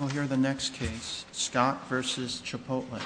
We'll hear the next case, Scott v. Chipotle.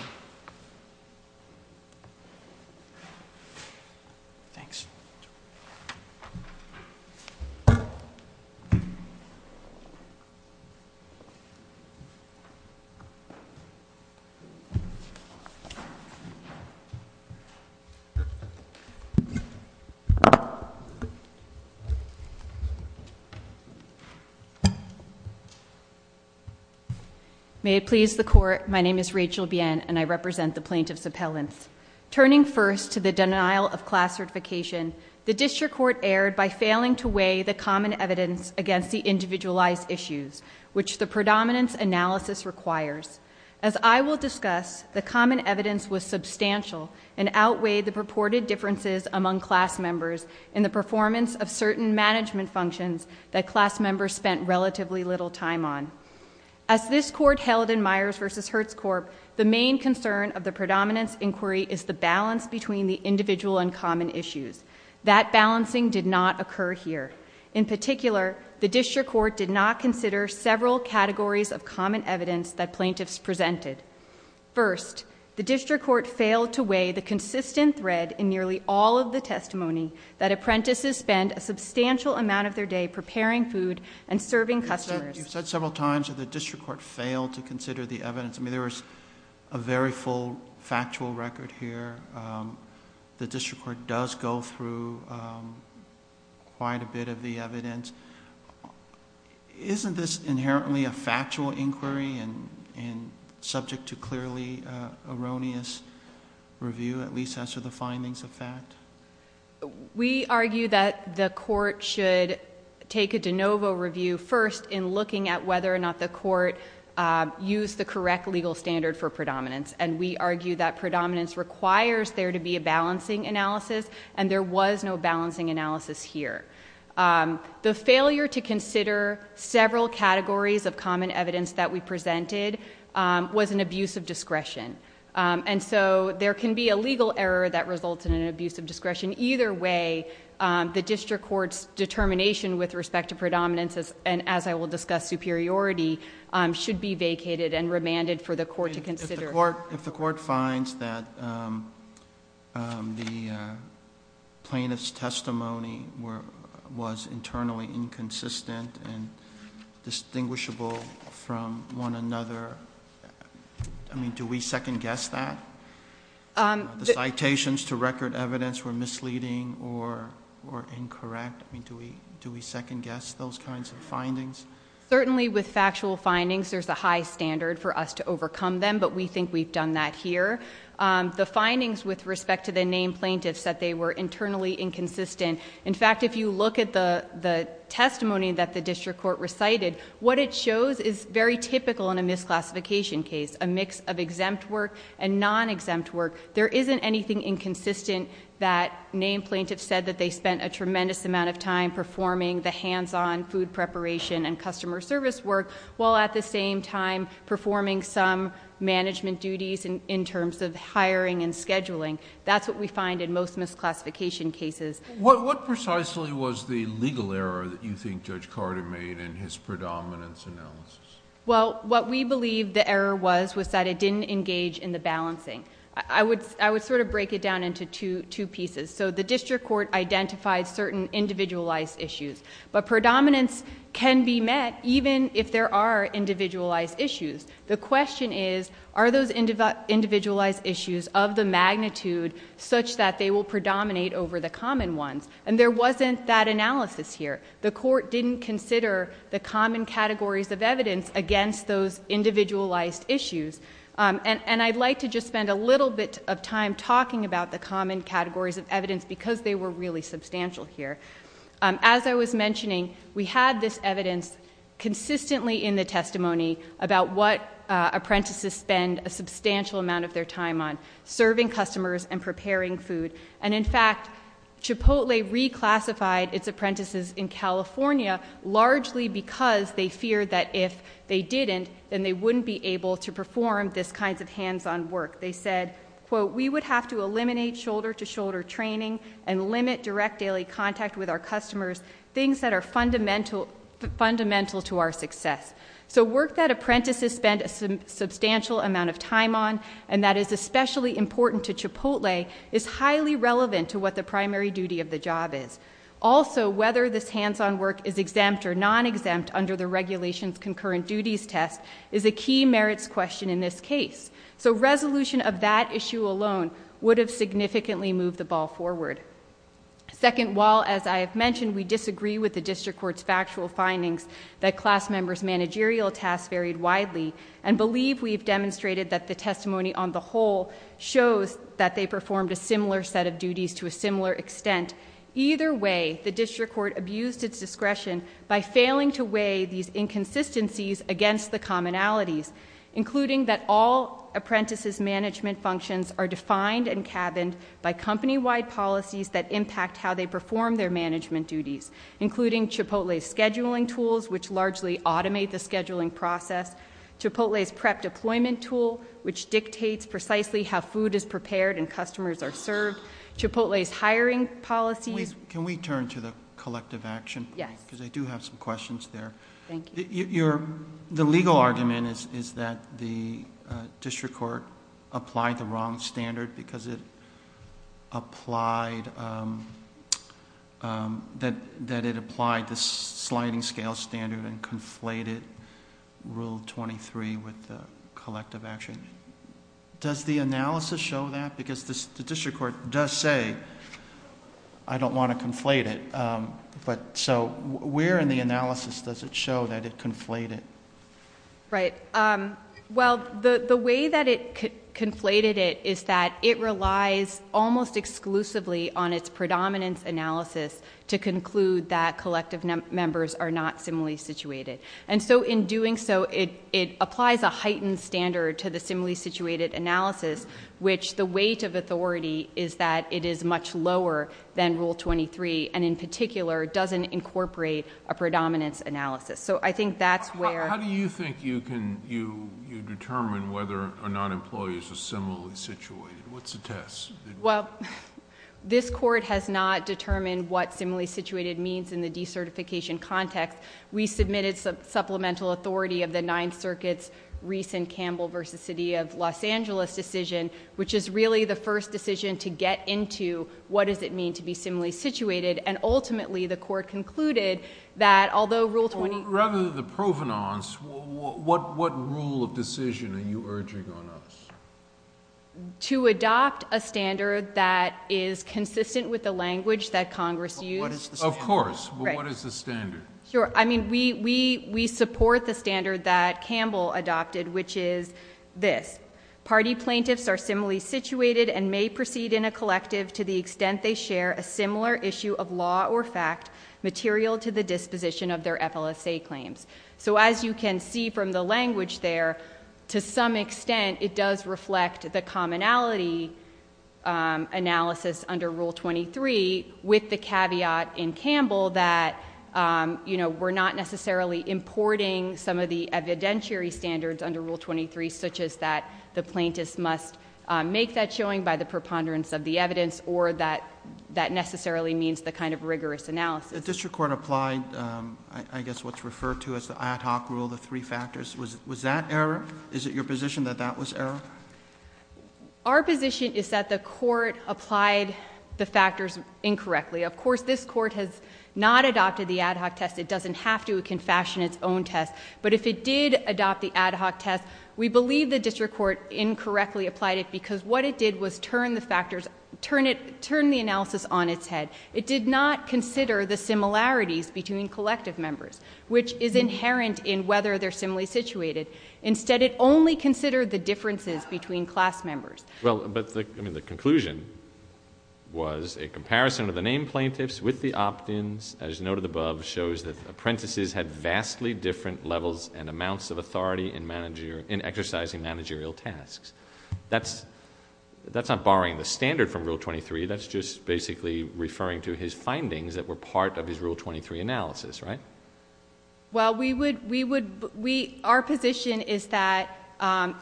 May it please the Court, my name is Rachel Bien, and I represent the plaintiffs' appellants. Turning first to the denial of class certification, the district court erred by failing to weigh the common evidence against the individualized issues, which the predominance analysis requires. As I will discuss, the common evidence was substantial and outweighed the purported differences among class members in the performance of certain As this court held in Myers v. Hertz Corp., the main concern of the predominance inquiry is the balance between the individual and common issues. That balancing did not occur here. In particular, the district court did not consider several categories of common evidence that plaintiffs presented. First, the district court failed to weigh the consistent thread in nearly all of the testimony that apprentices spend a substantial amount of their day preparing food and serving customers. You've said several times that the district court failed to consider the evidence. I mean, there was a very full factual record here. The district court does go through quite a bit of the evidence. Isn't this inherently a factual inquiry and subject to clearly erroneous review, at least as to the findings of fact? We argue that the court should take a de novo review first in looking at whether or not the court used the correct legal standard for predominance. And we argue that predominance requires there to be a balancing analysis, and there was no balancing analysis here. The failure to consider several categories of common evidence that we presented was an abuse of discretion. And so there can be a legal error that results in an abuse of discretion. Either way, the district court's determination with respect to predominance, and as I will discuss, superiority, should be vacated and remanded for the court to consider. If the court finds that the plaintiff's testimony was internally inconsistent and do we second guess that? The citations to record evidence were misleading or incorrect. Do we second guess those kinds of findings? Certainly with factual findings, there's a high standard for us to overcome them, but we think we've done that here. The findings with respect to the named plaintiffs that they were internally inconsistent. In fact, if you look at the testimony that the district court recited, what it shows is very typical in a misclassification case, a mix of exempt work and non-exempt work. There isn't anything inconsistent that named plaintiffs said that they spent a tremendous amount of time performing the hands-on food preparation and customer service work, while at the same time performing some management duties in terms of hiring and scheduling. That's what we find in most misclassification cases. What precisely was the legal error that you think Judge Carter made in his predominance analysis? Well, what we believe the error was, was that it didn't engage in the balancing. I would sort of break it down into two pieces. So the district court identified certain individualized issues. But predominance can be met even if there are individualized issues. The question is, are those individualized issues of the magnitude such that they will predominate over the common ones? And there wasn't that analysis here. The court didn't consider the common categories of evidence against those individualized issues. And I'd like to just spend a little bit of time talking about the common categories of evidence because they were really substantial here. As I was mentioning, we had this evidence consistently in the testimony about what apprentices spend a substantial amount of their time on, serving customers and preparing food. And in fact, Chipotle reclassified its apprentices in California, largely because they feared that if they didn't, then they wouldn't be able to perform this kinds of hands-on work. They said, quote, we would have to eliminate shoulder-to-shoulder training and limit direct daily contact with our customers, things that are fundamental to our success. So work that apprentices spend a substantial amount of time on, and that is especially important to Chipotle, is highly relevant to what the primary duty of the job is. Also, whether this hands-on work is exempt or non-exempt under the regulations concurrent duties test is a key merits question in this case. So resolution of that issue alone would have significantly moved the ball forward. Second, while as I have mentioned, we disagree with the district court's factual findings that class members' managerial tasks varied widely. And believe we've demonstrated that the testimony on the whole shows that they performed a similar set of duties to a similar extent. Either way, the district court abused its discretion by failing to weigh these inconsistencies against the commonalities. Including that all apprentices' management functions are defined and cabined by company-wide policies that impact how they perform their management duties. Including Chipotle's scheduling tools, which largely automate the scheduling process. Chipotle's prep deployment tool, which dictates precisely how food is prepared and customers are served. Chipotle's hiring policies. Can we turn to the collective action? Yes. Because I do have some questions there. Thank you. The legal argument is that the district court applied the wrong standard because it applied, that it applied the sliding scale standard and conflated rule 23 with the collective action. Does the analysis show that? Because the district court does say, I don't want to conflate it. But so, where in the analysis does it show that it conflated? Right, well, the way that it conflated it is that it relies almost exclusively on its predominance analysis to conclude that collective members are not similarly situated. And so, in doing so, it applies a heightened standard to the similarly situated analysis, which the weight of authority is that it is much lower than rule 23, and in particular, doesn't incorporate a predominance analysis. So I think that's where- How do you think you can, you determine whether or not employees are similarly situated? What's the test? Well, this court has not determined what similarly situated means in the decertification context. We submitted supplemental authority of the Ninth Circuit's recent Campbell versus City of Los Angeles decision, which is really the first decision to get into what does it mean to be similarly situated. And ultimately, the court concluded that, although rule 23- Rather than the provenance, what rule of decision are you urging on us? To adopt a standard that is consistent with the language that Congress used. Of course, but what is the standard? Sure, I mean, we support the standard that Campbell adopted, which is this. Party plaintiffs are similarly situated and may proceed in a collective to the extent they share a similar issue of law or fact material to the disposition of their FLSA claims. So as you can see from the language there, to some extent, it does reflect the commonality analysis under rule 23, with the caveat in Campbell that we're not necessarily importing some of the evidentiary standards under rule 23, such as that the plaintiffs must make that showing by the preponderance of the evidence or that necessarily means the kind of rigorous analysis. The district court applied, I guess what's referred to as the ad hoc rule, the three factors. Was that error? Is it your position that that was error? Our position is that the court applied the factors incorrectly. Of course, this court has not adopted the ad hoc test. It doesn't have to, it can fashion its own test. But if it did adopt the ad hoc test, we believe the district court incorrectly applied it, because what it did was turn the analysis on its head. It did not consider the similarities between collective members, which is inherent in whether they're similarly situated. Instead, it only considered the differences between class members. Well, but the conclusion was a comparison of the named plaintiffs with the opt-ins, as noted above, shows that apprentices had vastly different levels and amounts of authority in exercising managerial tasks. That's not borrowing the standard from rule 23, that's just basically referring to his findings that were part of his rule 23 analysis, right? Well, our position is that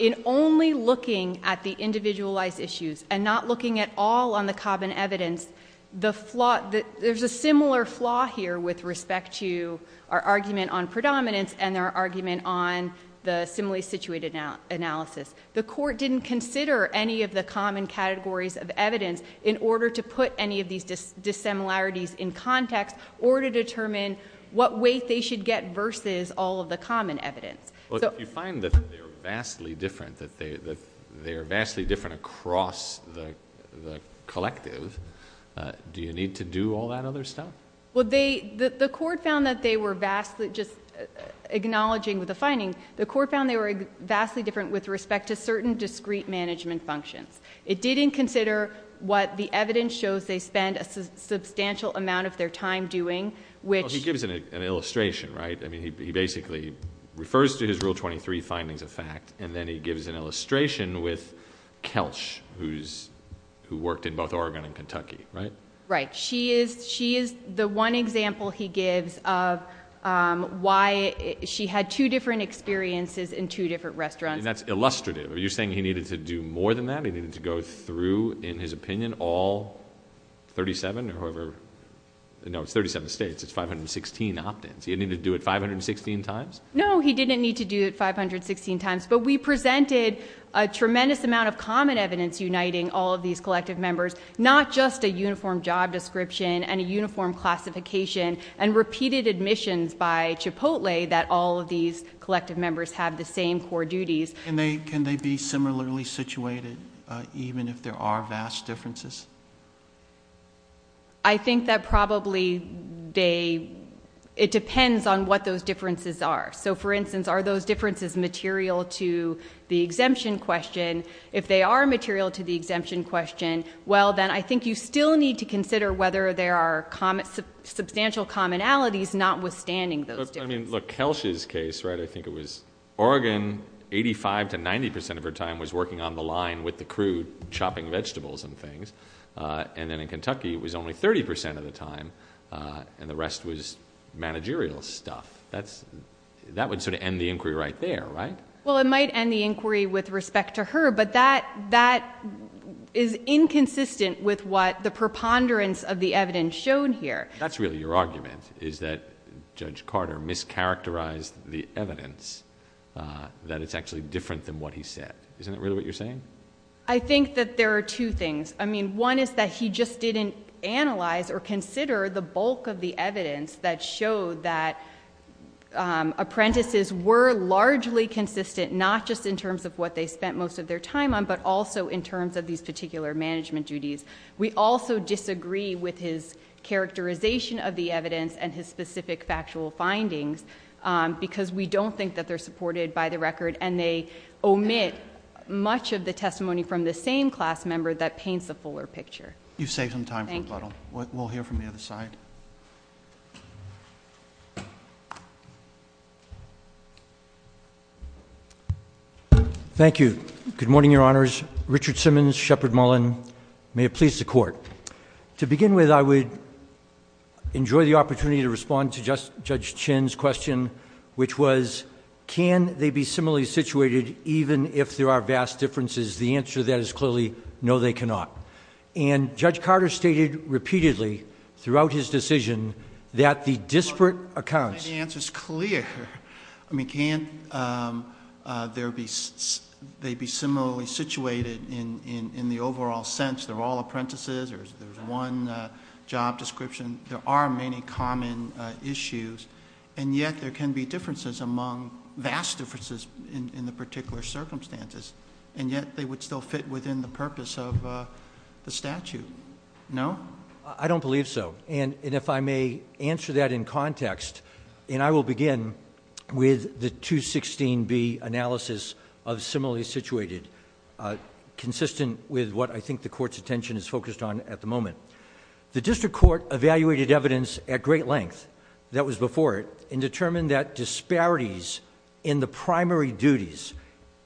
in only looking at the individualized issues and not looking at all on the common evidence, there's a similar flaw here with respect to our argument on predominance and our argument on the similarly situated analysis. The court didn't consider any of the common categories of evidence in order to put any of these dissimilarities in context, or to determine what weight they should get versus all of the common evidence. So- If you find that they're vastly different, that they are vastly different across the collective, do you need to do all that other stuff? Well, the court found that they were vastly, just acknowledging with the finding, the court found they were vastly different with respect to certain discrete management functions. It didn't consider what the evidence shows they spend a substantial amount of their time doing, which- He gives an illustration, right? I mean, he basically refers to his rule 23 findings of fact, and then he gives an illustration with Kelch, who worked in both Oregon and Kentucky, right? Right, she is the one example he gives of why she had two different experiences in two different restaurants. That's illustrative. You're saying he needed to do more than that? He needed to go through, in his opinion, all 37 or however, no it's 37 states, it's 516 opt-ins. He needed to do it 516 times? No, he didn't need to do it 516 times, but we presented a tremendous amount of common evidence uniting all of these collective members. Not just a uniform job description and a uniform classification and repeated admissions by Chipotle that all of these collective members have the same core duties. Can they be similarly situated even if there are vast differences? I think that probably they, it depends on what those differences are. So for instance, are those differences material to the exemption question? If they are material to the exemption question, well then I think you still need to consider whether there are substantial commonalities notwithstanding those differences. I mean, look, Kelsh's case, right, I think it was Oregon, 85 to 90% of her time was working on the line with the crew chopping vegetables and things. And then in Kentucky, it was only 30% of the time, and the rest was managerial stuff. That's, that would sort of end the inquiry right there, right? Well, it might end the inquiry with respect to her, but that is inconsistent with what the preponderance of the evidence showed here. That's really your argument, is that Judge Carter mischaracterized the evidence that it's actually different than what he said. Isn't that really what you're saying? I think that there are two things. I mean, one is that he just didn't analyze or consider the bulk of the evidence that showed that apprentices were largely consistent, not just in terms of what they spent most of their time on, but also in terms of these particular management duties. We also disagree with his characterization of the evidence and his specific factual findings, because we don't think that they're supported by the record. And they omit much of the testimony from the same class member that paints a fuller picture. You've saved some time for the bottle. We'll hear from the other side. Thank you. Good morning, your honors. Richard Simmons, Shepard Mullen. May it please the court. To begin with, I would enjoy the opportunity to respond to Judge Chinn's question, which was, can they be similarly situated even if there are vast differences? The answer to that is clearly, no, they cannot. And Judge Carter stated repeatedly throughout his decision that the disparate accounts- And the answer's clear. I mean, can't they be similarly situated in the overall sense? They're all apprentices, or there's one job description. There are many common issues. And yet, there can be differences among, vast differences in the particular circumstances. And yet, they would still fit within the purpose of the statute, no? I don't believe so. And if I may answer that in context, and I will begin with the 216B analysis of similarly situated. Consistent with what I think the court's attention is focused on at the moment. The district court evaluated evidence at great length that was before it, and determined that disparities in the primary duties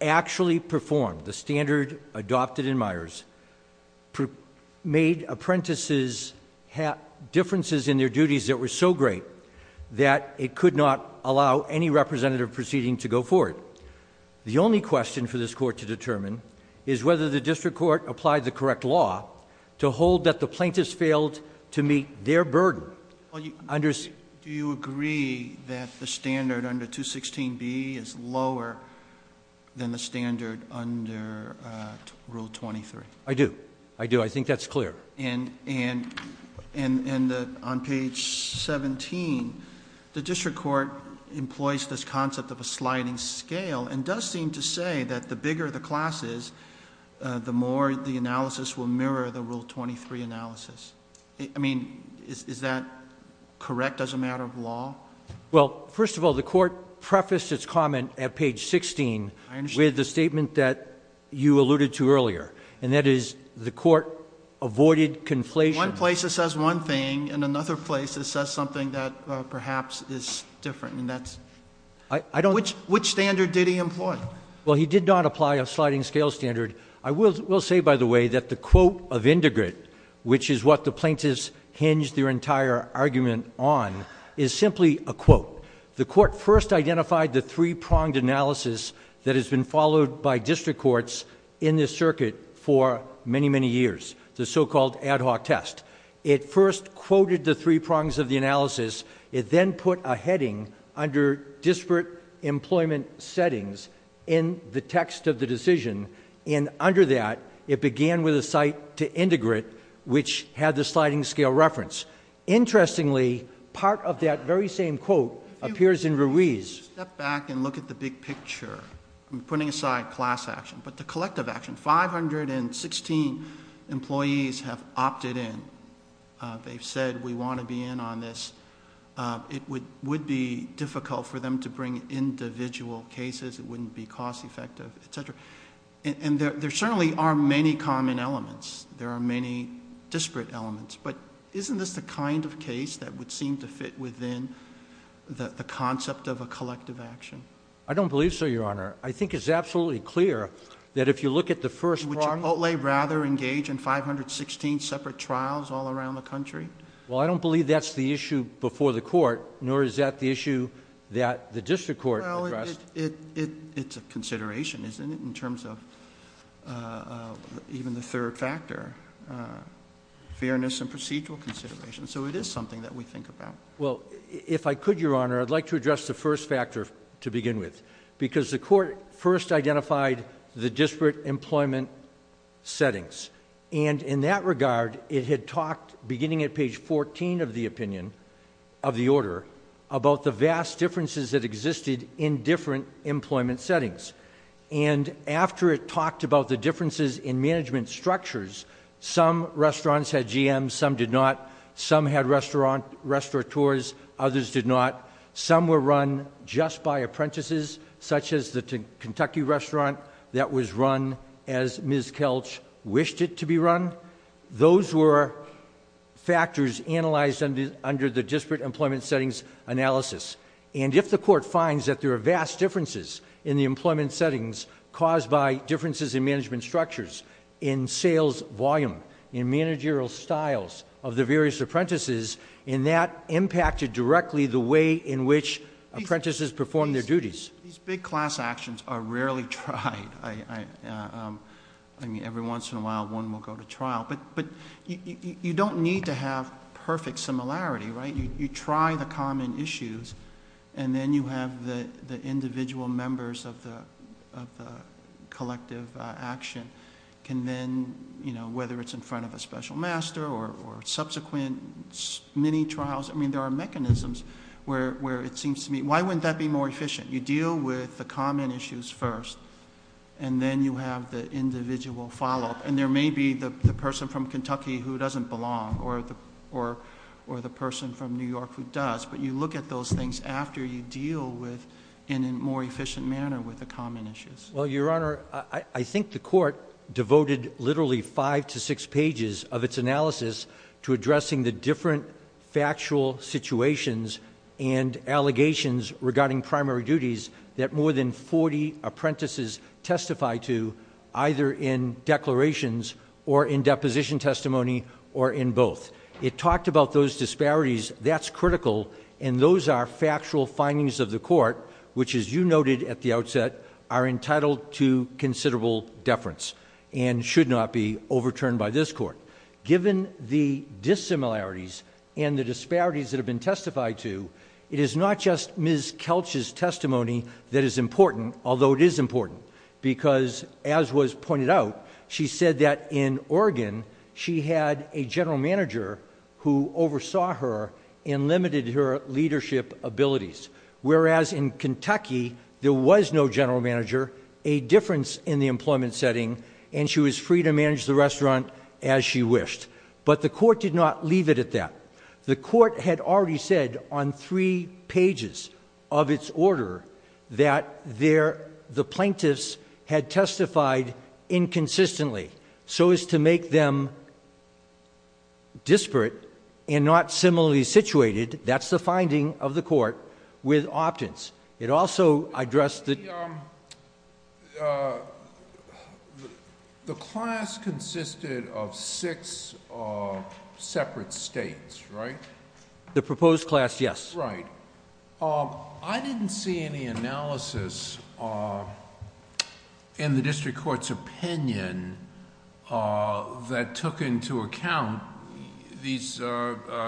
actually performed, the standard adopted in Myers, made apprentices have differences in their duties that were so great that it could not allow any representative proceeding to go forward. The only question for this court to determine is whether the district court applied the correct law to hold that the plaintiffs failed to meet their burden under- Rule 23. I do. I do. I think that's clear. And on page 17, the district court employs this concept of a sliding scale. And does seem to say that the bigger the class is, the more the analysis will mirror the rule 23 analysis. Well, first of all, the court prefaced its comment at page 16 with the statement that you alluded to earlier. And that is, the court avoided conflation. One place it says one thing, and another place it says something that perhaps is different, and that's- I don't- Which standard did he employ? Well, he did not apply a sliding scale standard. I will say, by the way, that the quote of Indigret, which is what the plaintiffs hinged their entire argument on, is simply a quote. The court first identified the three-pronged analysis that has been followed by district courts in this circuit for many, many years. The so-called ad hoc test. It first quoted the three prongs of the analysis. It then put a heading under disparate employment settings in the text of the decision. And under that, it began with a cite to Indigret, which had the sliding scale reference. Interestingly, part of that very same quote appears in Ruiz. Step back and look at the big picture. I'm putting aside class action, but the collective action, 516 employees have opted in. They've said, we want to be in on this. It would be difficult for them to bring individual cases. It wouldn't be cost effective, etc. And there certainly are many common elements. There are many disparate elements. But isn't this the kind of case that would seem to fit within the concept of a collective action? I don't believe so, Your Honor. I think it's absolutely clear that if you look at the first prong- Would Chipotle rather engage in 516 separate trials all around the country? Well, I don't believe that's the issue before the court, nor is that the issue that the district court addressed. Well, it's a consideration, isn't it, in terms of even the third factor, fairness and procedural consideration. So it is something that we think about. Well, if I could, Your Honor, I'd like to address the first factor to begin with. Because the court first identified the disparate employment settings. And in that regard, it had talked, beginning at page 14 of the opinion, of the order, about the vast differences that existed in different employment settings. And after it talked about the differences in management structures, some restaurants had GMs, some did not. Some had restaurateurs, others did not. Some were run just by apprentices, such as the Kentucky restaurant that was run as Ms. Kelch wished it to be run. Those were factors analyzed under the disparate employment settings analysis. And if the court finds that there are vast differences in the employment settings caused by differences in management structures, in sales volume, in managerial styles of the various apprentices, and that impacted directly the way in which apprentices performed their duties. These big class actions are rarely tried. I mean, every once in a while, one will go to trial. But you don't need to have perfect similarity, right? You try the common issues, and then you have the individual members of the collective action. Can then, whether it's in front of a special master or subsequent mini trials. I mean, there are mechanisms where it seems to me, why wouldn't that be more efficient? You deal with the common issues first, and then you have the individual follow up. And there may be the person from Kentucky who doesn't belong, or the person from New York who does. But you look at those things after you deal with, in a more efficient manner, with the common issues. Well, Your Honor, I think the court devoted literally five to six pages of its analysis to addressing the different factual situations and allegations regarding primary duties that more than 40 apprentices testify to either in declarations or in deposition testimony or in both. It talked about those disparities, that's critical, and those are factual findings of the court, which as you noted at the outset, are entitled to considerable deference and should not be overturned by this court. Given the dissimilarities and the disparities that have been testified to, it is not just Ms. Kelch's testimony that is important, although it is important. Because as was pointed out, she said that in Oregon, she had a general manager who oversaw her and limited her leadership abilities. Whereas in Kentucky, there was no general manager, a difference in the employment setting, and she was free to manage the restaurant as she wished. But the court did not leave it at that. The court had already said on three pages of its order that the plaintiffs had testified inconsistently, so as to make them disparate and not similarly situated. That's the finding of the court with opt-ins. It also addressed the- The class consisted of six separate states, right? The proposed class, yes. Right. I didn't see any analysis in the district court's opinion that took into account these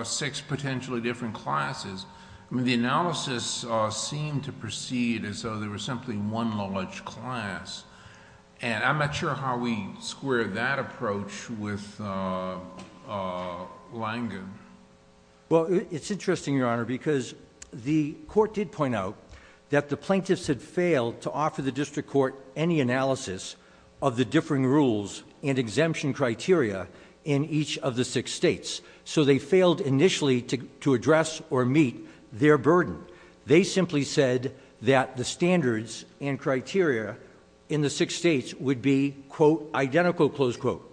six potentially different classes. The analysis seemed to proceed as though there was simply one knowledge class, and I'm not sure how we square that approach with Langen. Well, it's interesting, Your Honor, because the court did point out that the plaintiffs had failed to offer the district court any analysis of the differing rules and exemption criteria in each of the six states. So they failed initially to address or meet their burden. They simply said that the standards and criteria in the six states would be, quote, identical, close quote.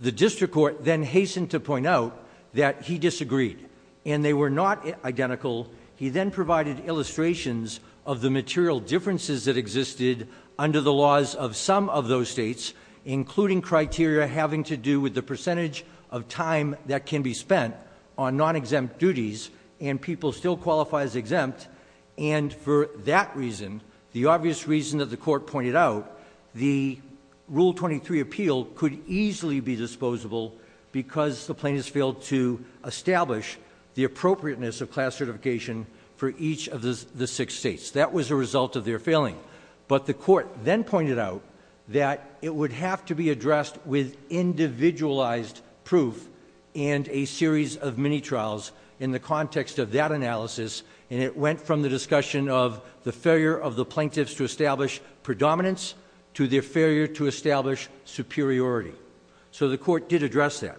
The district court then hastened to point out that he disagreed, and they were not identical. He then provided illustrations of the material differences that existed under the laws of some of those states, including criteria having to do with the percentage of time that can be spent on non-exempt duties, and people still qualify as exempt. And for that reason, the obvious reason that the court pointed out, the Rule 23 appeal could easily be disposable because the plaintiffs failed to establish the appropriateness of class certification for each of the six states. That was a result of their failing. But the court then pointed out that it would have to be addressed with individualized proof and a series of mini trials in the context of that analysis, and it went from the discussion of the failure of the plaintiffs to establish predominance to their failure to establish superiority. So the court did address that,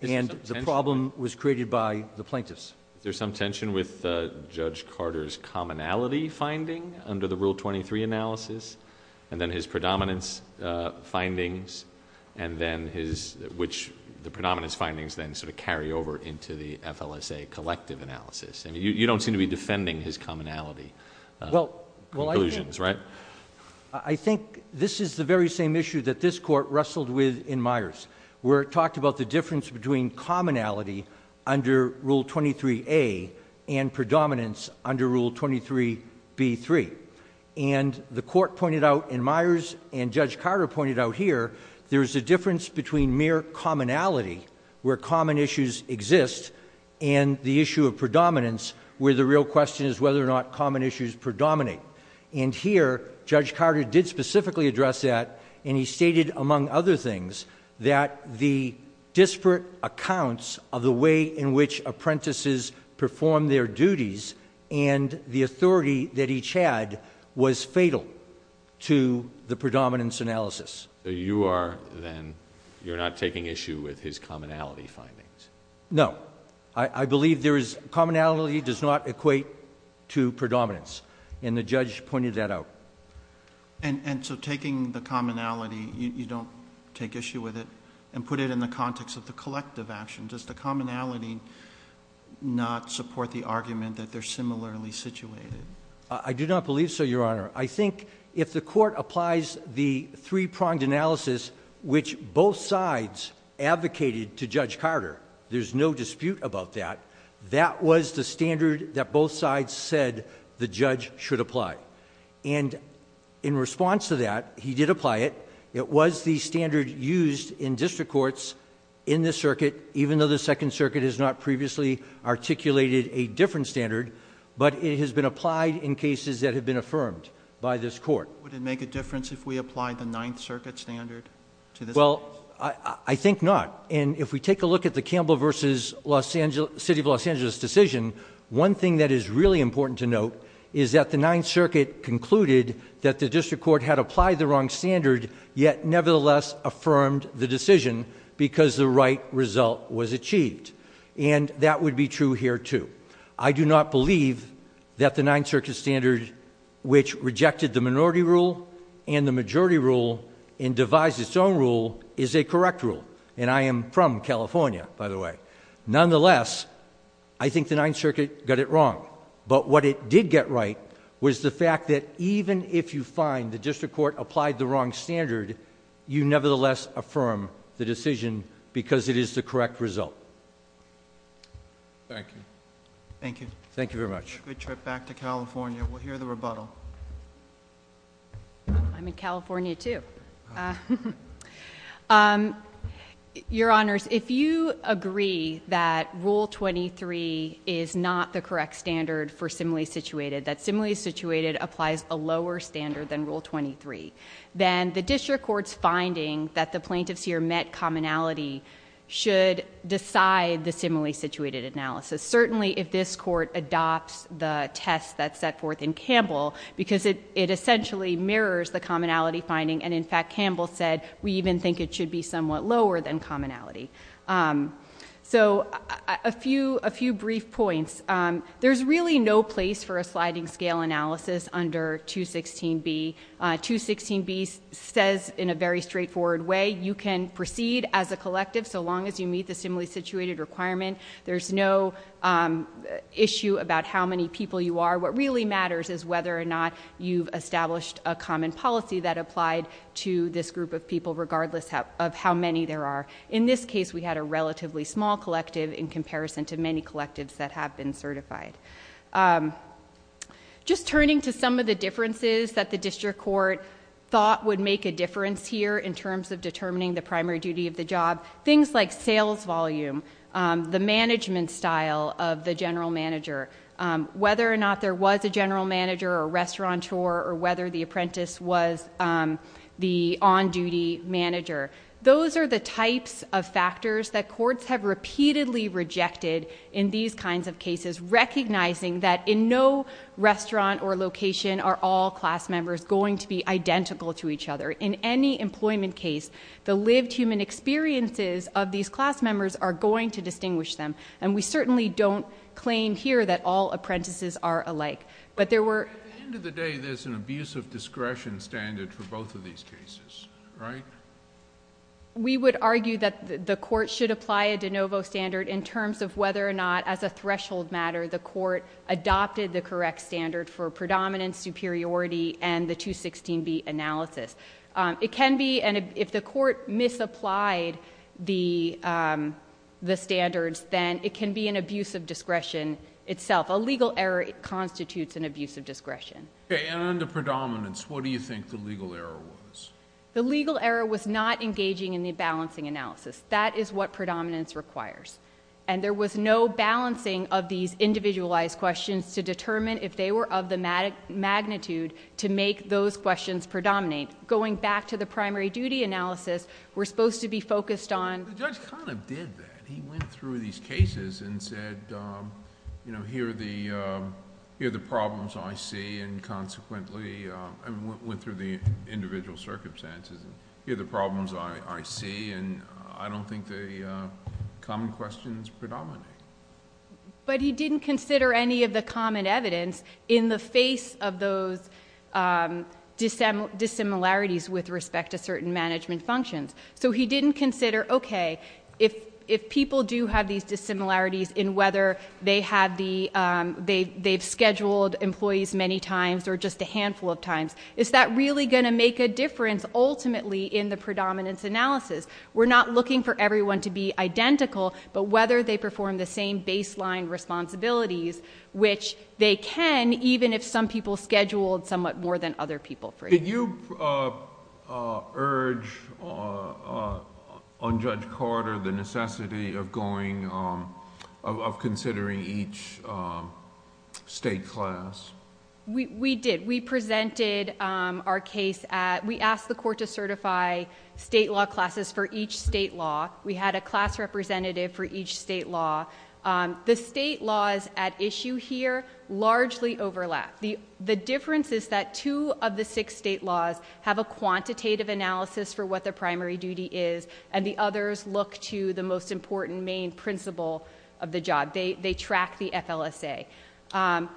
and the problem was created by the plaintiffs. There's some tension with Judge Carter's commonality finding under the Rule 23 analysis, and then his predominance findings, and then his, which the predominance findings then sort of carry over into the FLSA collective analysis. I mean, you don't seem to be defending his commonality conclusions, right? I think this is the very same issue that this court wrestled with in Myers, where it talked about the difference between commonality under Rule 23A and predominance under Rule 23B3, and the court pointed out in Myers, and Judge Carter pointed out here, there's a difference between mere commonality, where common issues exist, and the issue of predominance, where the real question is whether or not common issues predominate. And here, Judge Carter did specifically address that, and he stated, among other things, that the disparate accounts of the way in which apprentices perform their duties and the authority that each had was fatal to the predominance analysis. So you are then, you're not taking issue with his commonality findings? No. I believe there is, commonality does not equate to predominance, and the judge pointed that out. And so taking the commonality, you don't take issue with it? And put it in the context of the collective action, does the commonality not support the argument that they're similarly situated? I do not believe so, Your Honor. I think if the court applies the three-pronged analysis, which both sides advocated to Judge Carter, there's no dispute about that. That was the standard that both sides said the judge should apply. And in response to that, he did apply it. It was the standard used in district courts in this circuit, even though the Second Circuit has not previously articulated a different standard. But it has been applied in cases that have been affirmed by this court. Would it make a difference if we applied the Ninth Circuit standard to this case? Well, I think not. And if we take a look at the Campbell versus City of Los Angeles decision, one thing that is really important to note is that the Ninth Circuit concluded that the district court had applied the wrong standard, yet nevertheless affirmed the decision because the right result was achieved, and that would be true here, too. I do not believe that the Ninth Circuit standard, which rejected the minority rule and the majority rule, and devised its own rule, is a correct rule. And I am from California, by the way. Nonetheless, I think the Ninth Circuit got it wrong. But what it did get right was the fact that even if you find the district court applied the wrong standard, you nevertheless affirm the decision because it is the correct result. Thank you. Thank you. Thank you very much. Have a good trip back to California. We'll hear the rebuttal. I'm in California, too. Your Honors, if you agree that Rule 23 is not the correct standard for simile situated, that simile situated applies a lower standard than Rule 23, then the district court's finding that the plaintiff's here met commonality should decide the simile situated analysis, certainly if this court adopts the test that's set forth in Campbell, because it essentially mirrors the commonality finding. And in fact, Campbell said, we even think it should be somewhat lower than commonality. So a few brief points. There's really no place for a sliding scale analysis under 216B. 216B says in a very straightforward way, you can proceed as a collective so long as you meet the simile situated requirement. There's no issue about how many people you are. What really matters is whether or not you've established a common policy that applied to this group of people regardless of how many there are. In this case, we had a relatively small collective in comparison to many collectives that have been certified. Just turning to some of the differences that the district court thought would make a difference here in terms of determining the primary duty of the job. Things like sales volume, the management style of the general manager. Whether or not there was a general manager or restaurateur or whether the apprentice was the on duty manager. Those are the types of factors that courts have repeatedly rejected in these kinds of cases. Recognizing that in no restaurant or location are all class members going to be identical to each other. In any employment case, the lived human experiences of these class members are going to distinguish them. And we certainly don't claim here that all apprentices are alike. But there were- At the end of the day, there's an abuse of discretion standard for both of these cases, right? We would argue that the court should apply a de novo standard in terms of whether or not, as a threshold matter, the court adopted the correct standard for predominance, superiority, and the 216B analysis. It can be, and if the court misapplied the standards, then it can be an abuse of discretion itself. A legal error constitutes an abuse of discretion. Okay, and on the predominance, what do you think the legal error was? The legal error was not engaging in the balancing analysis. That is what predominance requires. And there was no balancing of these individualized questions to determine if they were of the magnitude to make those questions predominate. Going back to the primary duty analysis, we're supposed to be focused on- The judge kind of did that. He went through these cases and said, here are the problems I see, and consequently, I mean, went through the individual circumstances, and here are the problems I see. And I don't think the common questions predominate. But he didn't consider any of the common evidence in the face of those dissimilarities with respect to certain management functions. So he didn't consider, okay, if people do have these dissimilarities in whether they've scheduled employees many times or just a handful of times, is that really going to make a difference ultimately in the predominance analysis? We're not looking for everyone to be identical, but whether they perform the same baseline responsibilities, which they can, even if some people scheduled somewhat more than other people. Did you urge on Judge Carter the necessity of going of considering each state class? We did. We presented our case at, we asked the court to certify state law classes for each state law. We had a class representative for each state law. The state laws at issue here largely overlap. The difference is that two of the six state laws have a quantitative analysis for what the primary duty is, and the others look to the most important main principle of the job. They track the FLSA.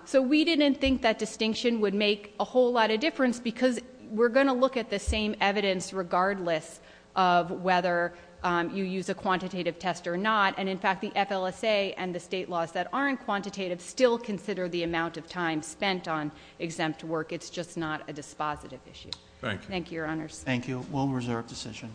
So we didn't think that distinction would make a whole lot of difference because we're going to look at the same evidence regardless of whether you use a quantitative test or not. And in fact, the FLSA and the state laws that aren't quantitative still consider the amount of time spent on exempt work. It's just not a dispositive issue. Thank you, your honors. Thank you. We'll reserve decision.